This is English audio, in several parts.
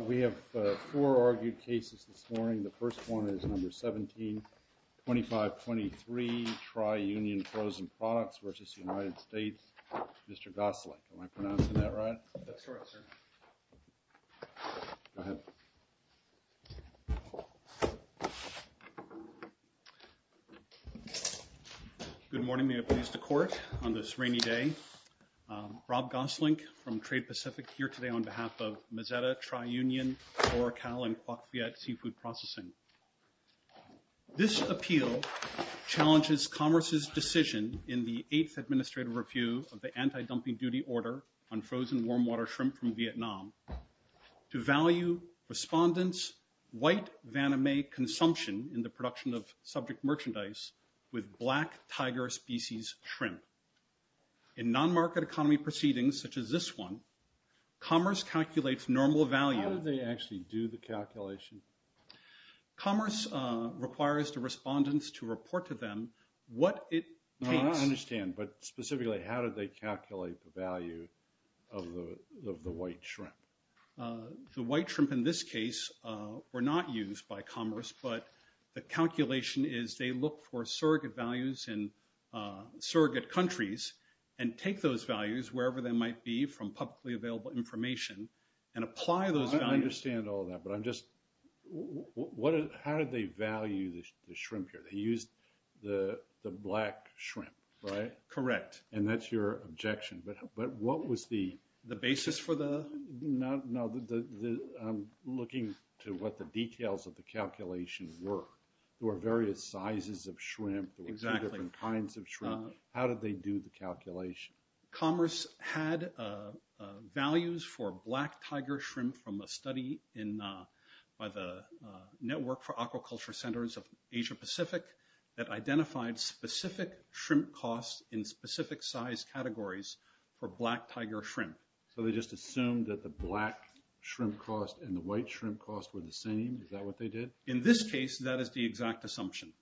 We have four argued cases this morning. The first one is number 17, 2523 Tri-Union Frozen Products v. United States. Mr. Goslick, am I pronouncing that right? That's correct, sir. Go ahead. Good morning. May it please the court, on this rainy day, Rob Goslick from Trade Pacific here today on behalf of Mazetta, Tri-Union, Oracal, and Quoc Viet Seafood Processing. This appeal challenges Commerce's decision in the 8th Administrative Review of the Anti-Dumping Duty Order on frozen warm water shrimp from Vietnam to value respondents' white vana-may consumption in the production of subject merchandise with black tiger species shrimp. In non-market economy proceedings such as this one, Commerce calculates normal value... How did they actually do the calculation? Commerce requires the respondents to report to them what it takes... No, I don't understand, but specifically, how did they calculate the value of the white shrimp? The white shrimp in this case were not used by Commerce, but the calculation is they look for surrogate values in surrogate countries and take those values wherever they might be from publicly available information and apply those values... How did they value the shrimp here? They used the black shrimp, right? Correct. And that's your objection, but what was the... The basis for the... No, I'm looking to what the details of the calculation were. There were various sizes of shrimp. Exactly. There were two different kinds of shrimp. How did they do the calculation? Commerce had values for black tiger shrimp from a study by the Network for Aquaculture Centers of Asia Pacific that identified specific shrimp costs in specific size categories for black tiger shrimp. So they just assumed that the black shrimp cost and the white shrimp cost were the same? Is that what they did? In this case, that is the exact assumption.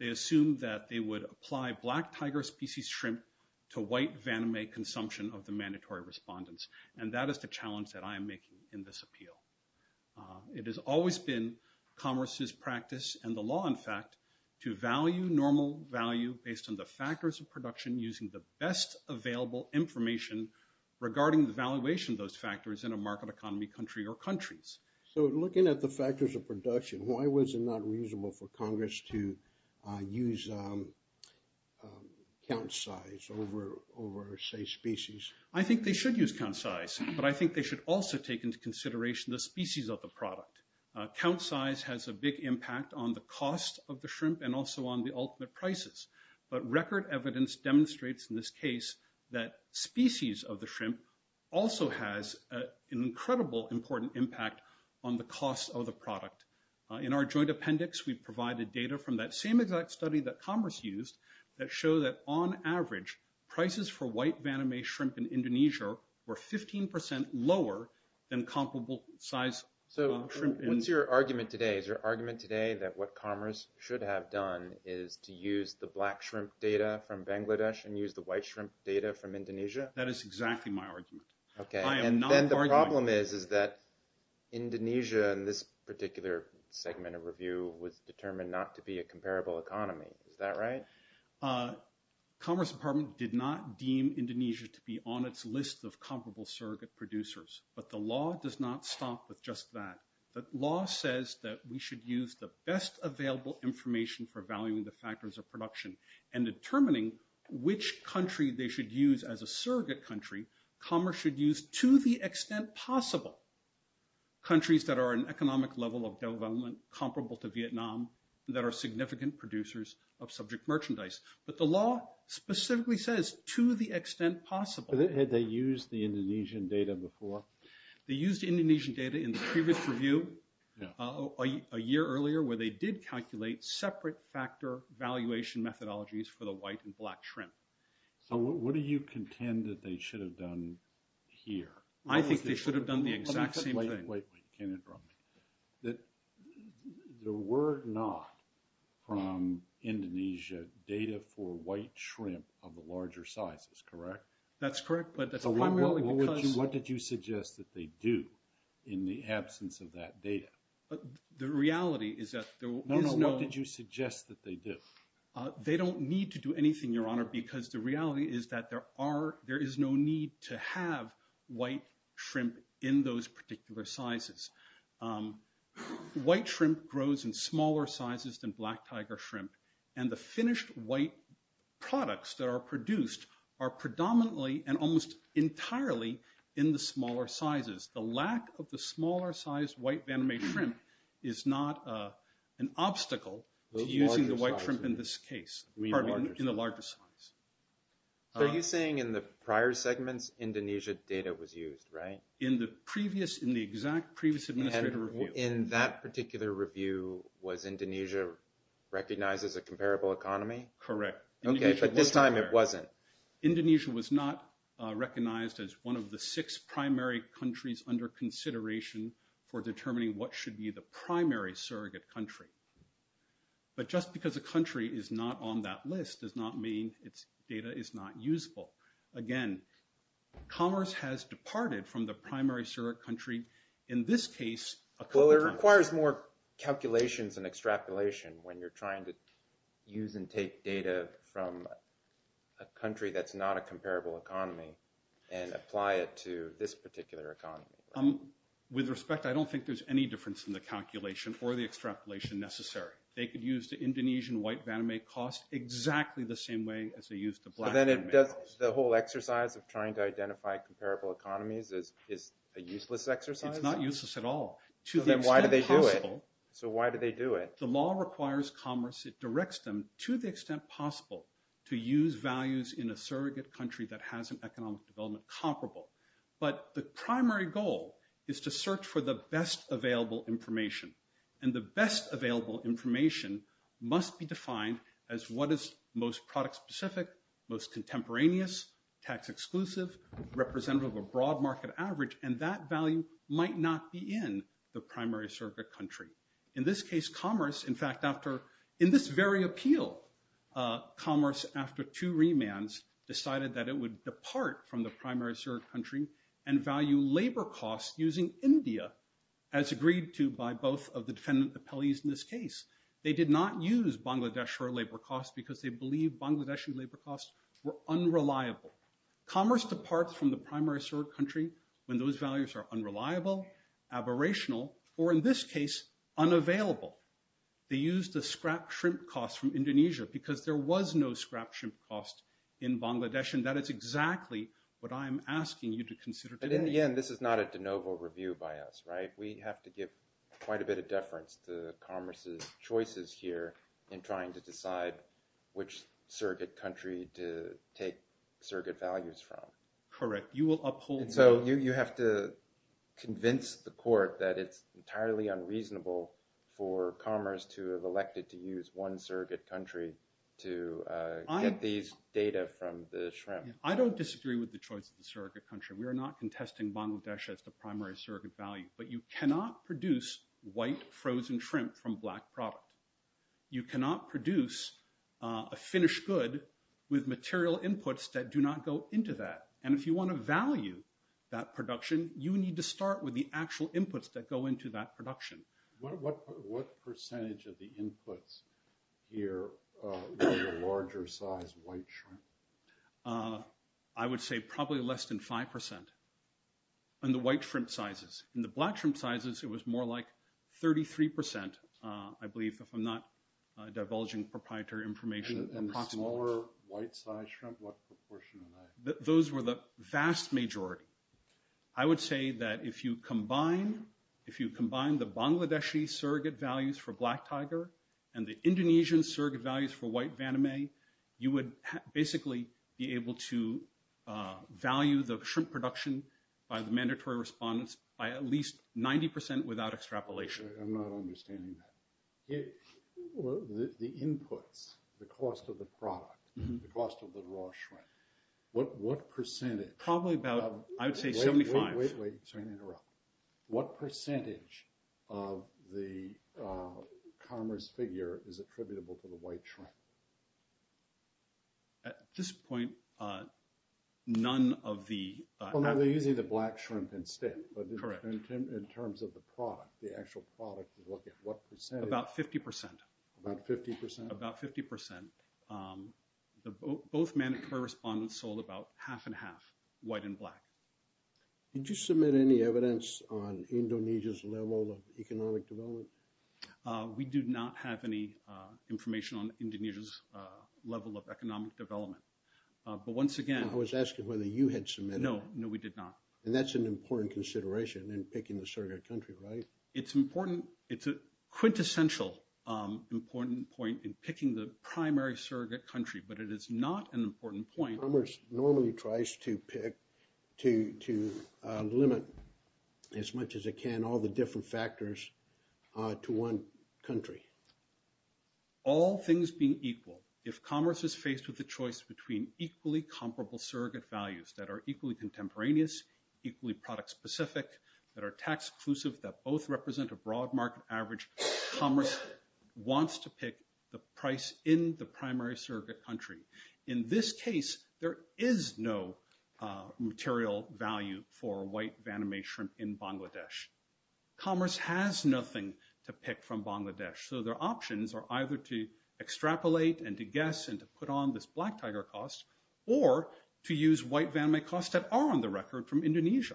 They assumed that they would apply black tiger species shrimp to white venomate consumption of the mandatory respondents, and that is the challenge that I am making in this appeal. It has always been Commerce's practice and the law, in fact, to value normal value based on the factors of production using the best available information regarding the valuation of those factors in a market economy country or countries. So looking at the factors of production, why was it not reasonable for Congress to use count size over, say, species? I think they should use count size, but I think they should also take into consideration the species of the product. Count size has a big impact on the cost of the shrimp and also on the ultimate prices, but record evidence demonstrates in this case that species of the shrimp also has an incredible important impact on the cost of the product. In our joint appendix, we provided data from that same exact study that Commerce used that show that on average, prices for white venomate shrimp in Indonesia were 15% lower than comparable size shrimp in... So what's your argument today? Is your argument today that what Commerce should have done is to use the black shrimp data from Bangladesh and use the white shrimp data from Indonesia? Okay, and then the problem is that Indonesia in this particular segment of review was determined not to be a comparable economy. Is that right? Commerce Department did not deem Indonesia to be on its list of comparable surrogate producers, but the law does not stop with just that. The law says that we should use the best available information for valuing the factors of production and determining which country they should use as a surrogate country. Commerce should use, to the extent possible, countries that are an economic level of development comparable to Vietnam that are significant producers of subject merchandise. But the law specifically says, to the extent possible... Had they used the Indonesian data before? They used Indonesian data in the previous review, a year earlier, where they did calculate separate factor valuation methodologies for the white and black shrimp. So what do you contend that they should have done here? I think they should have done the exact same thing. Wait, wait, wait. Can you interrupt me? There were not, from Indonesia, data for white shrimp of the larger sizes, correct? That's correct, but that's primarily because... What did you suggest that they do in the absence of that data? The reality is that there is no... No, no, what did you suggest that they do? They don't need to do anything, Your Honor, because the reality is that there is no need to have white shrimp in those particular sizes. White shrimp grows in smaller sizes than black tiger shrimp. And the finished white products that are produced are predominantly and almost entirely in the smaller sizes. The lack of the smaller size white banh mi shrimp is not an obstacle to using the white shrimp in this case, in the larger size. So are you saying in the prior segments, Indonesia data was used, right? In the previous, in the exact previous administrator review... And in that particular review, was Indonesia recognized as a comparable economy? Correct. Okay, but this time it wasn't. Indonesia was not recognized as one of the six primary countries under consideration for determining what should be the primary surrogate country. But just because a country is not on that list does not mean its data is not usable. Again, commerce has departed from the primary surrogate country, in this case... Well, it requires more calculations and extrapolation when you're trying to use and take data from a country that's not a comparable economy and apply it to this particular economy. With respect, I don't think there's any difference in the calculation or the extrapolation necessary. They could use the Indonesian white banh mi cost exactly the same way as they used the black banh mi. So then the whole exercise of trying to identify comparable economies is a useless exercise? It's not useless at all. Then why do they do it? So why do they do it? The law requires commerce. It directs them, to the extent possible, to use values in a surrogate country that has an economic development comparable. But the primary goal is to search for the best available information. And the best available information must be defined as what is most product-specific, most contemporaneous, tax-exclusive, representative of a broad market average. And that value might not be in the primary surrogate country. In this case, commerce, in fact, in this very appeal, commerce, after two remands, decided that it would depart from the primary surrogate country and value labor costs using India as agreed to by both of the defendant appellees in this case. They did not use Bangladeshi labor costs because they believed Bangladeshi labor costs were unreliable. Commerce departs from the primary surrogate country when those values are unreliable, aberrational, or in this case, unavailable. They used the scrapped shrimp costs from Indonesia because there was no scrapped shrimp cost in Bangladesh. And that is exactly what I am asking you to consider today. But in the end, this is not a de novo review by us, right? We have to give quite a bit of deference to commerce's choices here in trying to decide which surrogate country to take surrogate values from. Correct. You will uphold – So you have to convince the court that it's entirely unreasonable for commerce to have elected to use one surrogate country to get these data from the shrimp. I don't disagree with the choice of the surrogate country. We are not contesting Bangladesh as the primary surrogate value. But you cannot produce white frozen shrimp from black product. You cannot produce a finished good with material inputs that do not go into that. And if you want to value that production, you need to start with the actual inputs that go into that production. What percentage of the inputs here were the larger size white shrimp? I would say probably less than 5% in the white shrimp sizes. In the black shrimp sizes, it was more like 33%, I believe, if I'm not divulging proprietary information. And the smaller white size shrimp, what proportion were they? Those were the vast majority. I would say that if you combine the Bangladeshi surrogate values for black tiger and the Indonesian surrogate values for white vaname, you would basically be able to value the shrimp production by the mandatory respondents by at least 90% without extrapolation. I'm not understanding that. The inputs, the cost of the product, the cost of the raw shrimp, what percentage? Probably about, I would say 75. Wait, wait, sorry to interrupt. What percentage of the commerce figure is attributable to the white shrimp? At this point, none of the- They're using the black shrimp instead. Correct. In terms of the product, the actual product, what percentage? About 50%. About 50%? About 50%. Both mandatory respondents sold about half and half, white and black. Did you submit any evidence on Indonesia's level of economic development? We do not have any information on Indonesia's level of economic development. But once again- I was asking whether you had submitted- No, no, we did not. And that's an important consideration in picking the surrogate country, right? It's a quintessential important point in picking the primary surrogate country, but it is not an important point- Commerce normally tries to pick, to limit as much as it can all the different factors to one country. All things being equal, if commerce is faced with the choice between equally comparable surrogate values that are equally contemporaneous, equally product-specific, that are tax-exclusive, that both represent a broad market average, commerce wants to pick the price in the primary surrogate country. In this case, there is no material value for white Vanamay shrimp in Bangladesh. Commerce has nothing to pick from Bangladesh, so their options are either to extrapolate and to guess and to put on this black tiger cost, or to use white Vanamay costs that are on the record from Indonesia,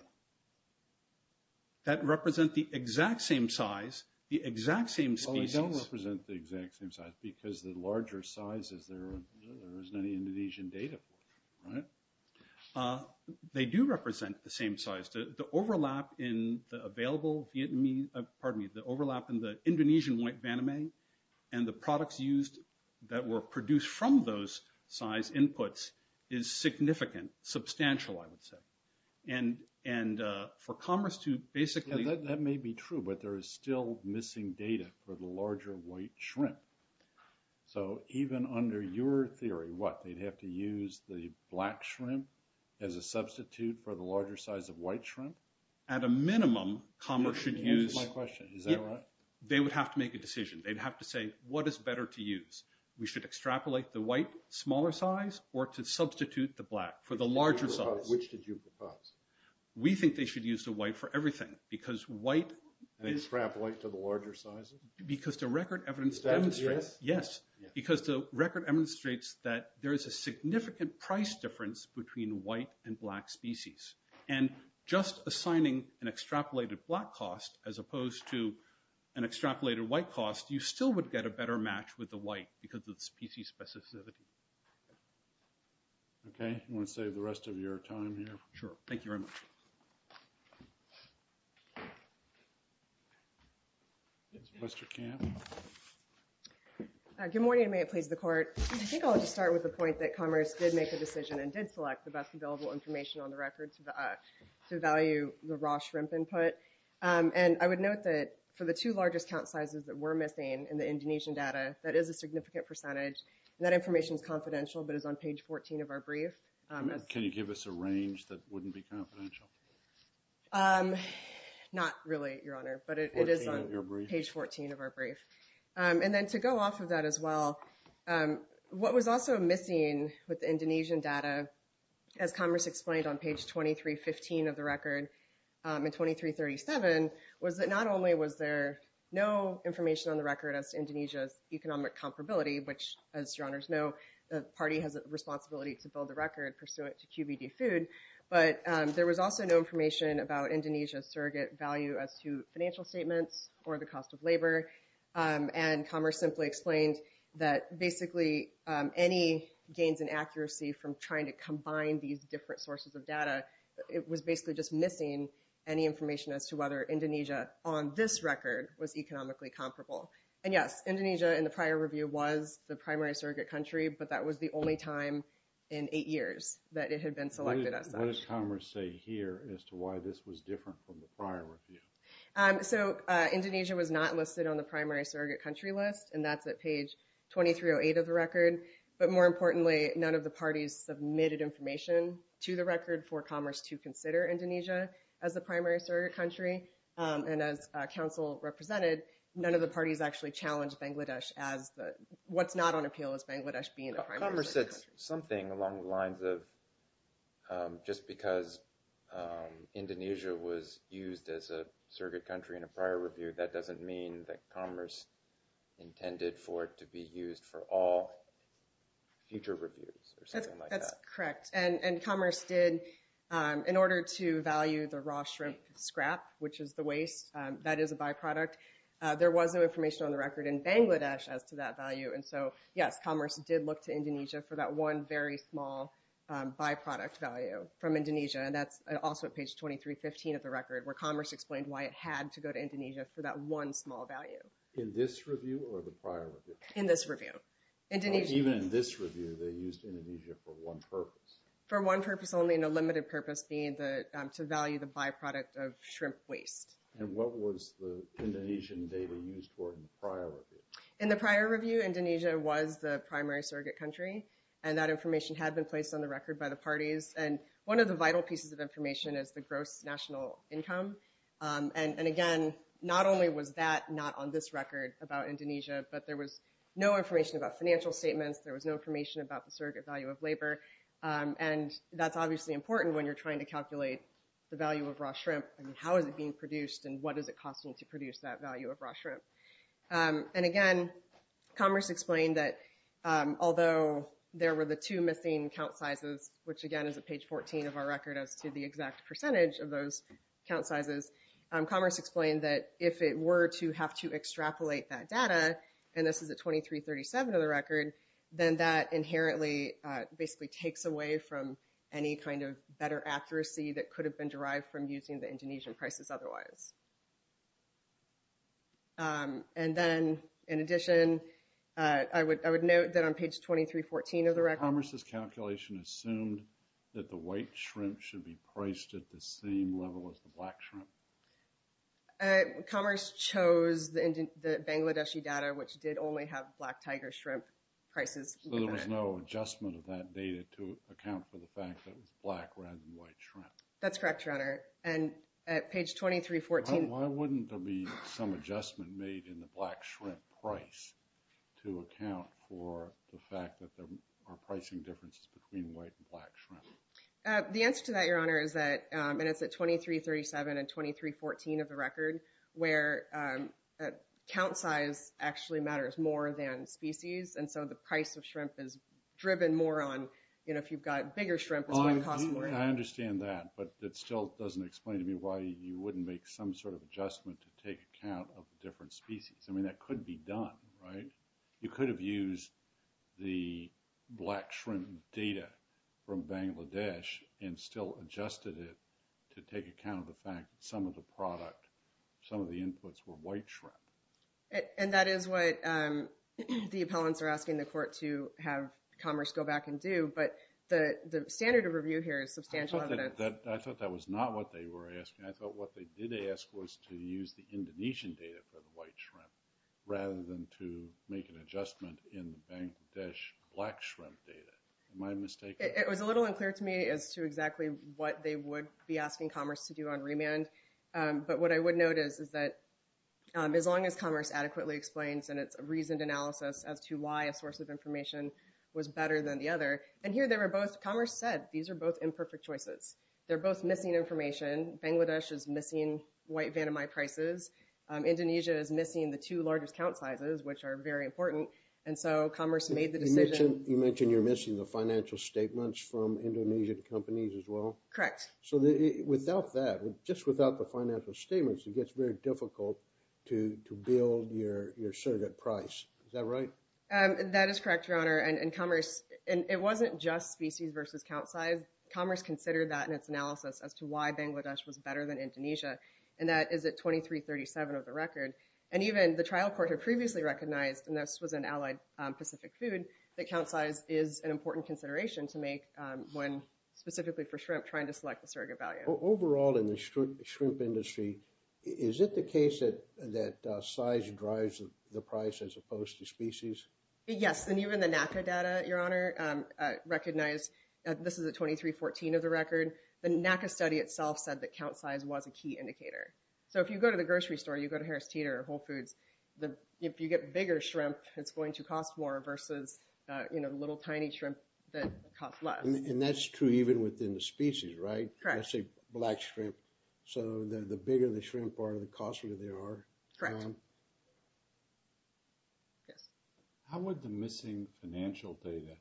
that represent the exact same size, the exact same species- Well, they don't represent the exact same size, because the larger size there isn't any Indonesian data for, right? They do represent the same size. The overlap in the available Vietnamese- pardon me, the overlap in the Indonesian white Vanamay and the products used that were produced from those size inputs is significant, substantial, I would say. And for commerce to basically- That may be true, but there is still missing data for the larger white shrimp. So even under your theory, what, they'd have to use the black shrimp as a substitute for the larger size of white shrimp? At a minimum, commerce should use- That's my question, is that right? They would have to make a decision. They'd have to say, what is better to use? We should extrapolate the white smaller size or to substitute the black for the larger size? Which did you propose? We think they should use the white for everything, because white- And extrapolate to the larger sizes? Because the record evidence demonstrates- Is that a yes? Yes, because the record demonstrates that there is a significant price difference between white and black species. And just assigning an extrapolated black cost as opposed to an extrapolated white cost, you still would get a better match with the white because of the species specificity. Okay, you want to save the rest of your time here? Sure, thank you very much. Ms. Westerkamp? Good morning, and may it please the Court. I think I'll just start with the point that commerce did make a decision and did select the best available information on the record to value the raw shrimp input. And I would note that for the two largest count sizes that we're missing in the Indonesian data, that is a significant percentage, and that information is confidential but is on page 14 of our brief. Can you give us a range that wouldn't be confidential? Not really, Your Honor, but it is on page 14 of our brief. And then to go off of that as well, what was also missing with the Indonesian data, as commerce explained on page 2315 of the record and 2337, was that not only was there no information on the record as to Indonesia's economic comparability, which, as Your Honors know, the party has a responsibility to build the record pursuant to QBD food, but there was also no information about Indonesia's surrogate value as to financial statements or the cost of labor. And commerce simply explained that basically any gains in accuracy from trying to combine these different sources of data, it was basically just missing any information as to whether Indonesia on this record was economically comparable. And yes, Indonesia in the prior review was the primary surrogate country, but that was the only time in eight years that it had been selected as such. What did commerce say here as to why this was different from the prior review? So Indonesia was not listed on the primary surrogate country list, and that's at page 2308 of the record. But more importantly, none of the parties submitted information to the record for commerce to consider Indonesia as the primary surrogate country. And as counsel represented, none of the parties actually challenged Bangladesh as the – what's not on appeal is Bangladesh being the primary surrogate country. Commerce said something along the lines of just because Indonesia was used as a surrogate country in a prior review, that doesn't mean that commerce intended for it to be used for all future reviews or something like that. That's correct. And commerce did, in order to value the raw shrimp scrap, which is the waste, that is a byproduct, there was no information on the record in Bangladesh as to that value. And so, yes, commerce did look to Indonesia for that one very small byproduct value from Indonesia. And that's also at page 2315 of the record, where commerce explained why it had to go to Indonesia for that one small value. In this review or the prior review? In this review. Even in this review, they used Indonesia for one purpose. For one purpose only and a limited purpose being to value the byproduct of shrimp waste. And what was the Indonesian data used for in the prior review? In the prior review, Indonesia was the primary surrogate country, and that information had been placed on the record by the parties. And one of the vital pieces of information is the gross national income. And, again, not only was that not on this record about Indonesia, but there was no information about financial statements. There was no information about the surrogate value of labor. And that's obviously important when you're trying to calculate the value of raw shrimp. I mean, how is it being produced and what is it costing to produce that value of raw shrimp? And, again, commerce explained that although there were the two missing count sizes, which, again, is at page 14 of our record as to the exact percentage of those count sizes, commerce explained that if it were to have to extrapolate that data, and this is at 2337 of the record, then that inherently basically takes away from any kind of better accuracy that could have been derived from using the Indonesian prices otherwise. And then, in addition, I would note that on page 2314 of the record. Did commerce's calculation assume that the white shrimp should be priced at the same level as the black shrimp? Commerce chose the Bangladeshi data, which did only have black tiger shrimp prices. So there was no adjustment of that data to account for the fact that it was black rather than white shrimp? That's correct, Your Honor. And at page 2314. Why wouldn't there be some adjustment made in the black shrimp price to account for the fact that there are pricing differences between white and black shrimp? The answer to that, Your Honor, is that, and it's at 2337 and 2314 of the record, where count size actually matters more than species. And so the price of shrimp is driven more on, you know, if you've got bigger shrimp, it's going to cost more. I understand that, but it still doesn't explain to me why you wouldn't make some sort of adjustment to take account of different species. I mean, that could be done, right? You could have used the black shrimp data from Bangladesh and still adjusted it to take account of the fact that some of the product, some of the inputs were white shrimp. And that is what the appellants are asking the court to have Commerce go back and do. But the standard of review here is substantial evidence. I thought that was not what they were asking. I thought what they did ask was to use the Indonesian data for the white shrimp rather than to make an adjustment in the Bangladesh black shrimp data. Am I mistaken? It was a little unclear to me as to exactly what they would be asking Commerce to do on remand. But what I would note is that as long as Commerce adequately explains and it's a reasoned analysis as to why a source of information was better than the other. And here they were both, Commerce said, these are both imperfect choices. They're both missing information. Bangladesh is missing white vandemite prices. Indonesia is missing the two largest count sizes, which are very important. And so Commerce made the decision. You mentioned you're missing the financial statements from Indonesian companies as well? Correct. So without that, just without the financial statements, it gets very difficult to build your surrogate price. Is that right? That is correct, Your Honor. And Commerce, it wasn't just species versus count size. Commerce considered that in its analysis as to why Bangladesh was better than Indonesia. And that is at 2337 of the record. And even the trial court had previously recognized, and this was in Allied Pacific Food, that count size is an important consideration to make when specifically for shrimp trying to select the surrogate value. Overall in the shrimp industry, is it the case that size drives the price as opposed to species? Yes. And even the NACA data, Your Honor, recognized this is at 2314 of the record. The NACA study itself said that count size was a key indicator. So if you go to the grocery store, you go to Harris Teeter or Whole Foods, if you get bigger shrimp, it's going to cost more versus, you know, little tiny shrimp that cost less. And that's true even within the species, right? Correct. Let's say black shrimp. So the bigger the shrimp are, the costlier they are. Correct. Yes. How would the missing financial data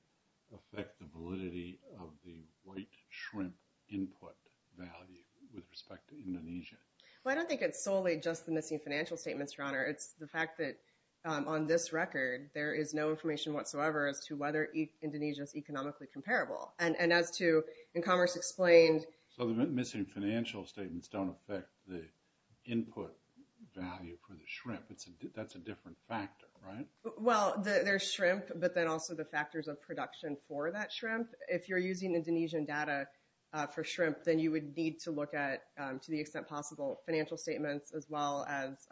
affect the validity of the white shrimp input value with respect to Indonesia? Well, I don't think it's solely just the missing financial statements, Your Honor. It's the fact that on this record, there is no information whatsoever as to whether Indonesia is economically comparable. And as to, in Commerce Explained… So the missing financial statements don't affect the input value for the shrimp. That's a different factor, right? Well, there's shrimp, but then also the factors of production for that shrimp. If you're using Indonesian data for shrimp, then you would need to look at, to the extent possible, financial statements as well as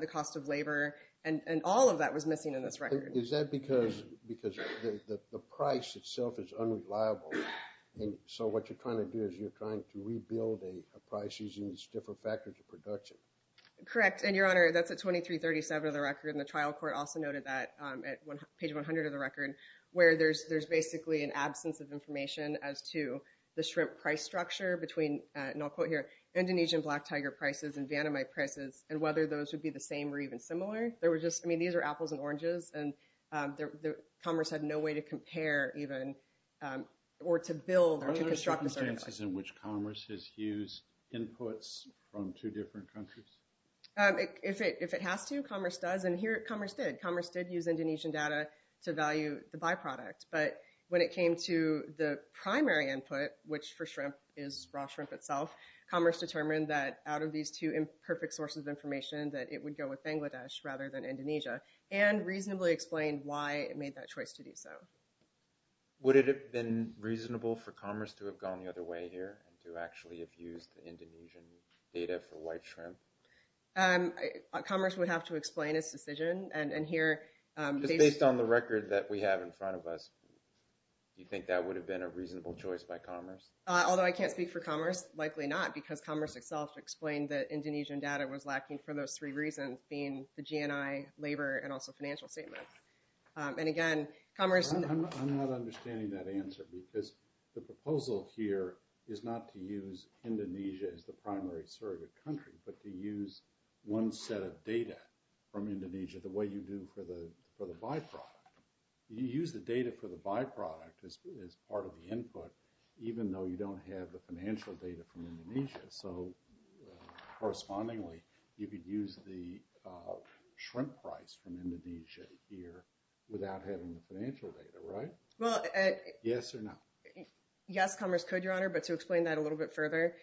the cost of labor. And all of that was missing in this record. Is that because the price itself is unreliable? And so what you're trying to do is you're trying to rebuild a price using these different factors of production. Correct. And, Your Honor, that's at 2337 of the record, and the trial court also noted that at page 100 of the record, where there's basically an absence of information as to the shrimp price structure between, and I'll quote here, Indonesian black tiger prices and Vietnamite prices, and whether those would be the same or even similar. I mean, these are apples and oranges, and Commerce had no way to compare even or to build or to construct a certificate. Do you think this is in which Commerce has used inputs from two different countries? If it has to, Commerce does, and here Commerce did. Commerce did use Indonesian data to value the byproduct. But when it came to the primary input, which for shrimp is raw shrimp itself, Commerce determined that out of these two imperfect sources of information that it would go with Bangladesh rather than Indonesia, and reasonably explained why it made that choice to do so. Would it have been reasonable for Commerce to have gone the other way here, and to actually have used the Indonesian data for white shrimp? Commerce would have to explain its decision, and here... Just based on the record that we have in front of us, do you think that would have been a reasonable choice by Commerce? Although I can't speak for Commerce, likely not, because Commerce itself explained that Indonesian data was lacking for those three reasons, being the GNI, labor, and also financial statements. And again, Commerce... I'm not understanding that answer, because the proposal here is not to use Indonesia as the primary surrogate country, but to use one set of data from Indonesia the way you do for the byproduct. You use the data for the byproduct as part of the input, even though you don't have the financial data from Indonesia. So correspondingly, you could use the shrimp price from Indonesia here without having the financial data, right? Yes or no? Yes, Commerce could, Your Honor, but to explain that a little bit further,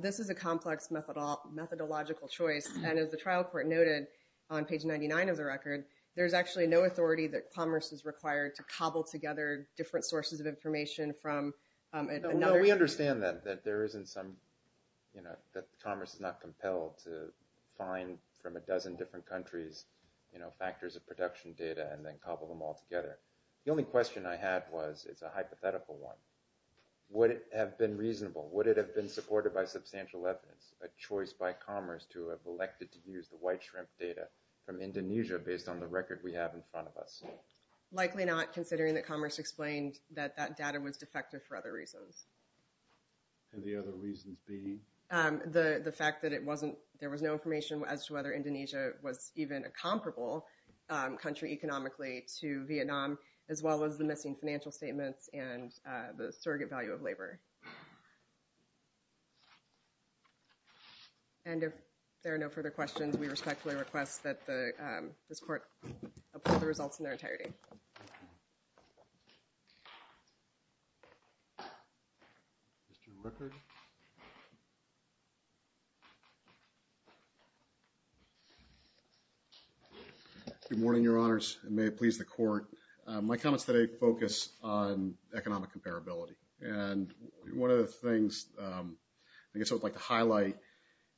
this is a complex methodological choice, and as the trial court noted on page 99 of the record, there's actually no authority that Commerce is required to cobble together different sources of information from another... We understand that Commerce is not compelled to find from a dozen different countries factors of production data and then cobble them all together. The only question I had was, it's a hypothetical one, would it have been reasonable, would it have been supported by substantial evidence, a choice by Commerce to have elected to use the white shrimp data from Indonesia based on the record we have in front of us? No, likely not, considering that Commerce explained that that data was defective for other reasons. And the other reasons being? The fact that there was no information as to whether Indonesia was even a comparable country economically to Vietnam, as well as the missing financial statements and the surrogate value of labor. And if there are no further questions, we respectfully request that this court approve the results in their entirety. Mr. Rickard? Good morning, Your Honors, and may it please the court. My comments today focus on economic comparability. And one of the things I guess I would like to highlight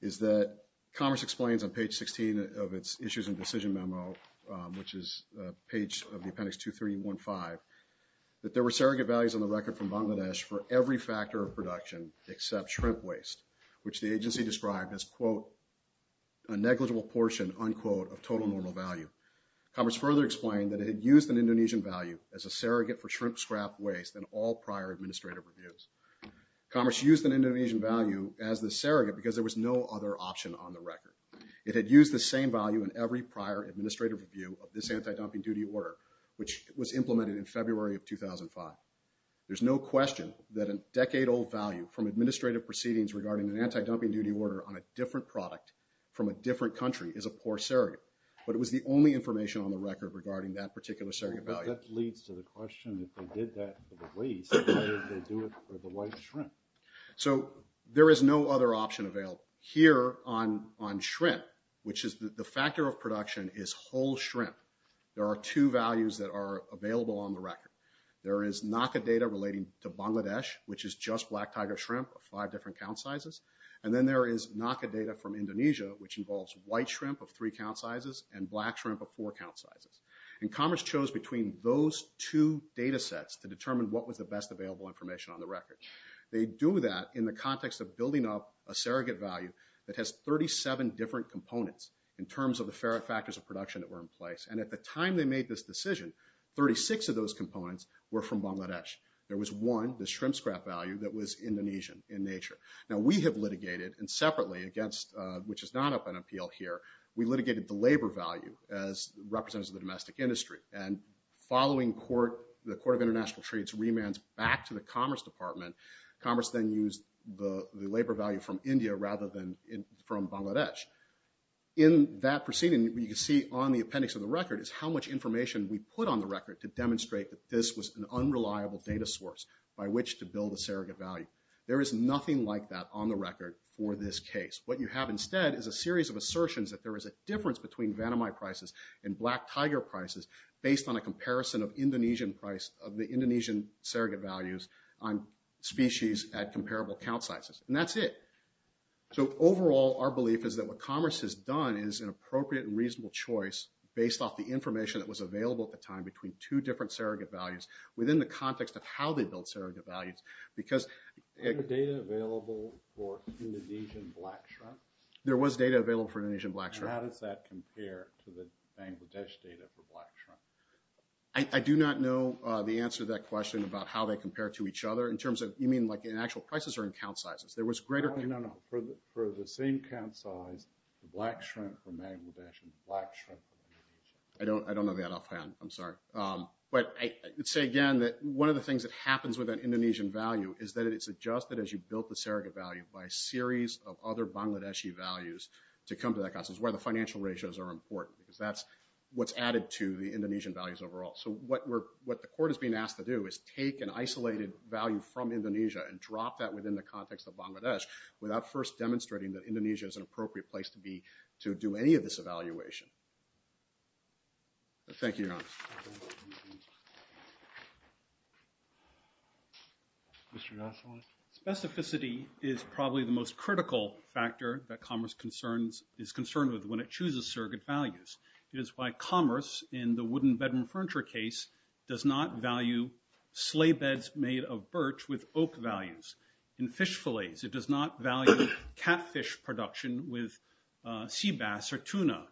is that Commerce explains on page 16 of its issues and decision memo, which is page of the appendix 2315, that there were surrogate values on the record from Bangladesh for every factor of production except shrimp waste, which the agency described as, quote, a negligible portion, unquote, of total normal value. Commerce further explained that it had used an Indonesian value as a surrogate for shrimp scrap waste in all prior administrative reviews. Commerce used an Indonesian value as the surrogate because there was no other option on the record. It had used the same value in every prior administrative review of this anti-dumping duty order, which was implemented in February of 2005. There's no question that a decade-old value from administrative proceedings regarding an anti-dumping duty order on a different product from a different country is a poor surrogate. But it was the only information on the record regarding that particular surrogate value. But that leads to the question, if they did that for the waste, why did they do it for the white shrimp? So there is no other option available. Here on shrimp, which is the factor of production, is whole shrimp. There are two values that are available on the record. There is NACA data relating to Bangladesh, which is just black tiger shrimp of five different count sizes. And then there is NACA data from Indonesia, which involves white shrimp of three count sizes and black shrimp of four count sizes. And Commerce chose between those two data sets to determine what was the best available information on the record. They do that in the context of building up a surrogate value that has 37 different components in terms of the factors of production that were in place. And at the time they made this decision, 36 of those components were from Bangladesh. There was one, the shrimp scrap value, that was Indonesian in nature. Now we have litigated, and separately, which is not up on appeal here, we litigated the labor value as representatives of the domestic industry. And following the Court of International Trade's remands back to the Commerce Department, Commerce then used the labor value from India rather than from Bangladesh. In that proceeding, what you see on the appendix of the record is how much information we put on the record to demonstrate that this was an unreliable data source by which to build a surrogate value. There is nothing like that on the record for this case. What you have instead is a series of assertions that there is a difference between vanamite prices and black tiger prices based on a comparison of the Indonesian surrogate values on species at comparable count sizes. And that's it. So overall, our belief is that what Commerce has done is an appropriate and reasonable choice based off the information that was available at the time between two different surrogate values within the context of how they built surrogate values. Are there data available for Indonesian black shrimp? There was data available for Indonesian black shrimp. And how does that compare to the Bangladesh data for black shrimp? I do not know the answer to that question about how they compare to each other. You mean like in actual prices or in count sizes? No, no, no. For the same count size, the black shrimp from Bangladesh and the black shrimp from Indonesia. I don't know that offhand. I'm sorry. But I would say again that one of the things that happens with an Indonesian value is that it's adjusted as you build the surrogate value by a series of other Bangladeshi values to come to that cost. It's where the financial ratios are important because that's what's added to the Indonesian values overall. So what the court is being asked to do is take an isolated value from Indonesia and drop that within the context of Bangladesh without first demonstrating that Indonesia is an appropriate place to do any of this evaluation. Thank you, Your Honour. Mr. Nassilan? Specificity is probably the most critical factor that commerce is concerned with when it chooses surrogate values. It is why commerce in the wooden bedroom furniture case does not value sleigh beds made of birch with oak values. In fish fillets, it does not value catfish production with sea bass or tuna.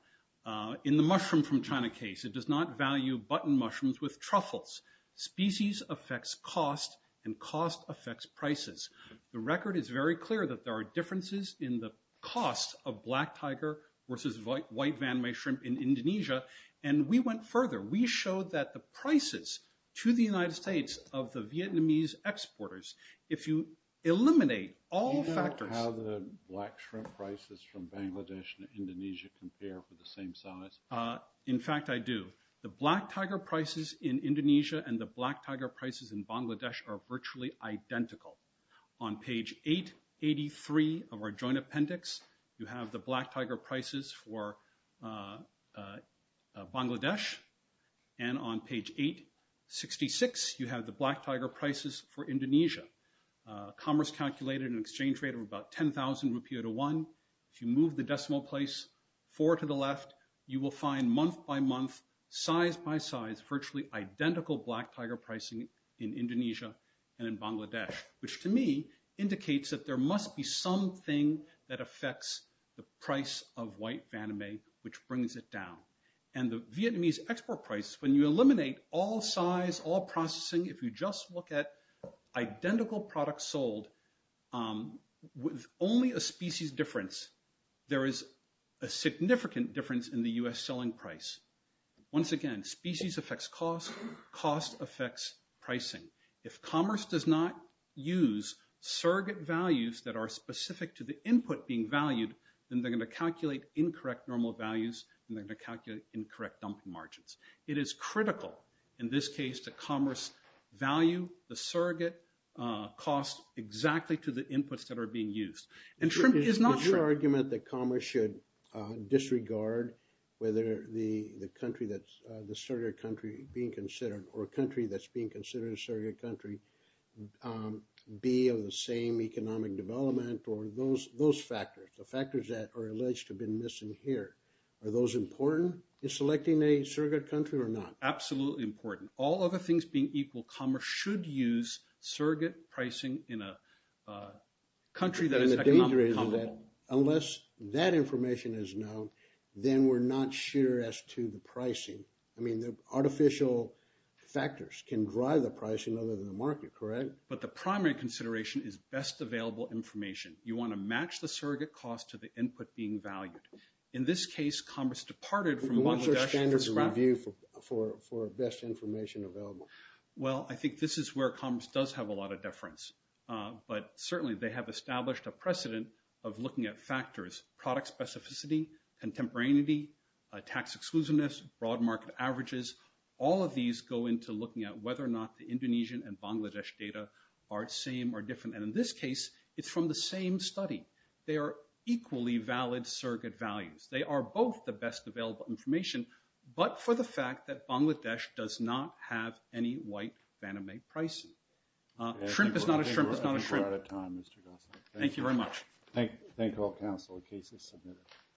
In the mushroom from China case, it does not value button mushrooms with truffles. Species affects cost, and cost affects prices. The record is very clear that there are differences in the cost of black tiger versus white Van Mee shrimp in Indonesia, and we went further. We showed that the prices to the United States of the Vietnamese exporters, if you eliminate all factors... ...Bangladesh and Indonesia compare for the same size? In fact, I do. The black tiger prices in Indonesia and the black tiger prices in Bangladesh are virtually identical. On page 883 of our joint appendix, you have the black tiger prices for Bangladesh, and on page 866, you have the black tiger prices for Indonesia. Commerce calculated an exchange rate of about 10,000 rupiah to one. If you move the decimal place forward to the left, you will find month by month, size by size, virtually identical black tiger pricing in Indonesia and in Bangladesh, which to me indicates that there must be something that affects the price of white Van Mee, which brings it down. And the Vietnamese export price, when you eliminate all size, all processing, if you just look at identical products sold with only a species difference, there is a significant difference in the U.S. selling price. Once again, species affects cost, cost affects pricing. If commerce does not use surrogate values that are specific to the input being valued, then they're going to calculate incorrect normal values, and they're going to calculate incorrect dumping margins. It is critical in this case to commerce value the surrogate cost exactly to the inputs that are being used. And Trump is not sure. Is your argument that commerce should disregard whether the country that's, the surrogate country being considered, or a country that's being considered a surrogate country, be of the same economic development, or those factors, the factors that are alleged to have been missing here, are those important in selecting a surrogate country or not? Absolutely important. All other things being equal, commerce should use surrogate pricing in a country that is economically comfortable. Unless that information is known, then we're not sure as to the pricing. I mean, the artificial factors can drive the pricing other than the market, correct? But the primary consideration is best available information. You want to match the surrogate cost to the input being valued. In this case, commerce departed from Bangladesh. What's your standard of review for best information available? Well, I think this is where commerce does have a lot of deference. But certainly they have established a precedent of looking at factors, product specificity, contemporaneity, tax exclusiveness, broad market averages. All of these go into looking at whether or not the Indonesian and Bangladesh data are the same or different. And in this case, it's from the same study. They are equally valid surrogate values. They are both the best available information, but for the fact that Bangladesh does not have any white Fannie Mae pricing. Shrimp is not a shrimp. We're out of time, Mr. Gosling. Thank you very much. Thank you all, counsel. The case is submitted.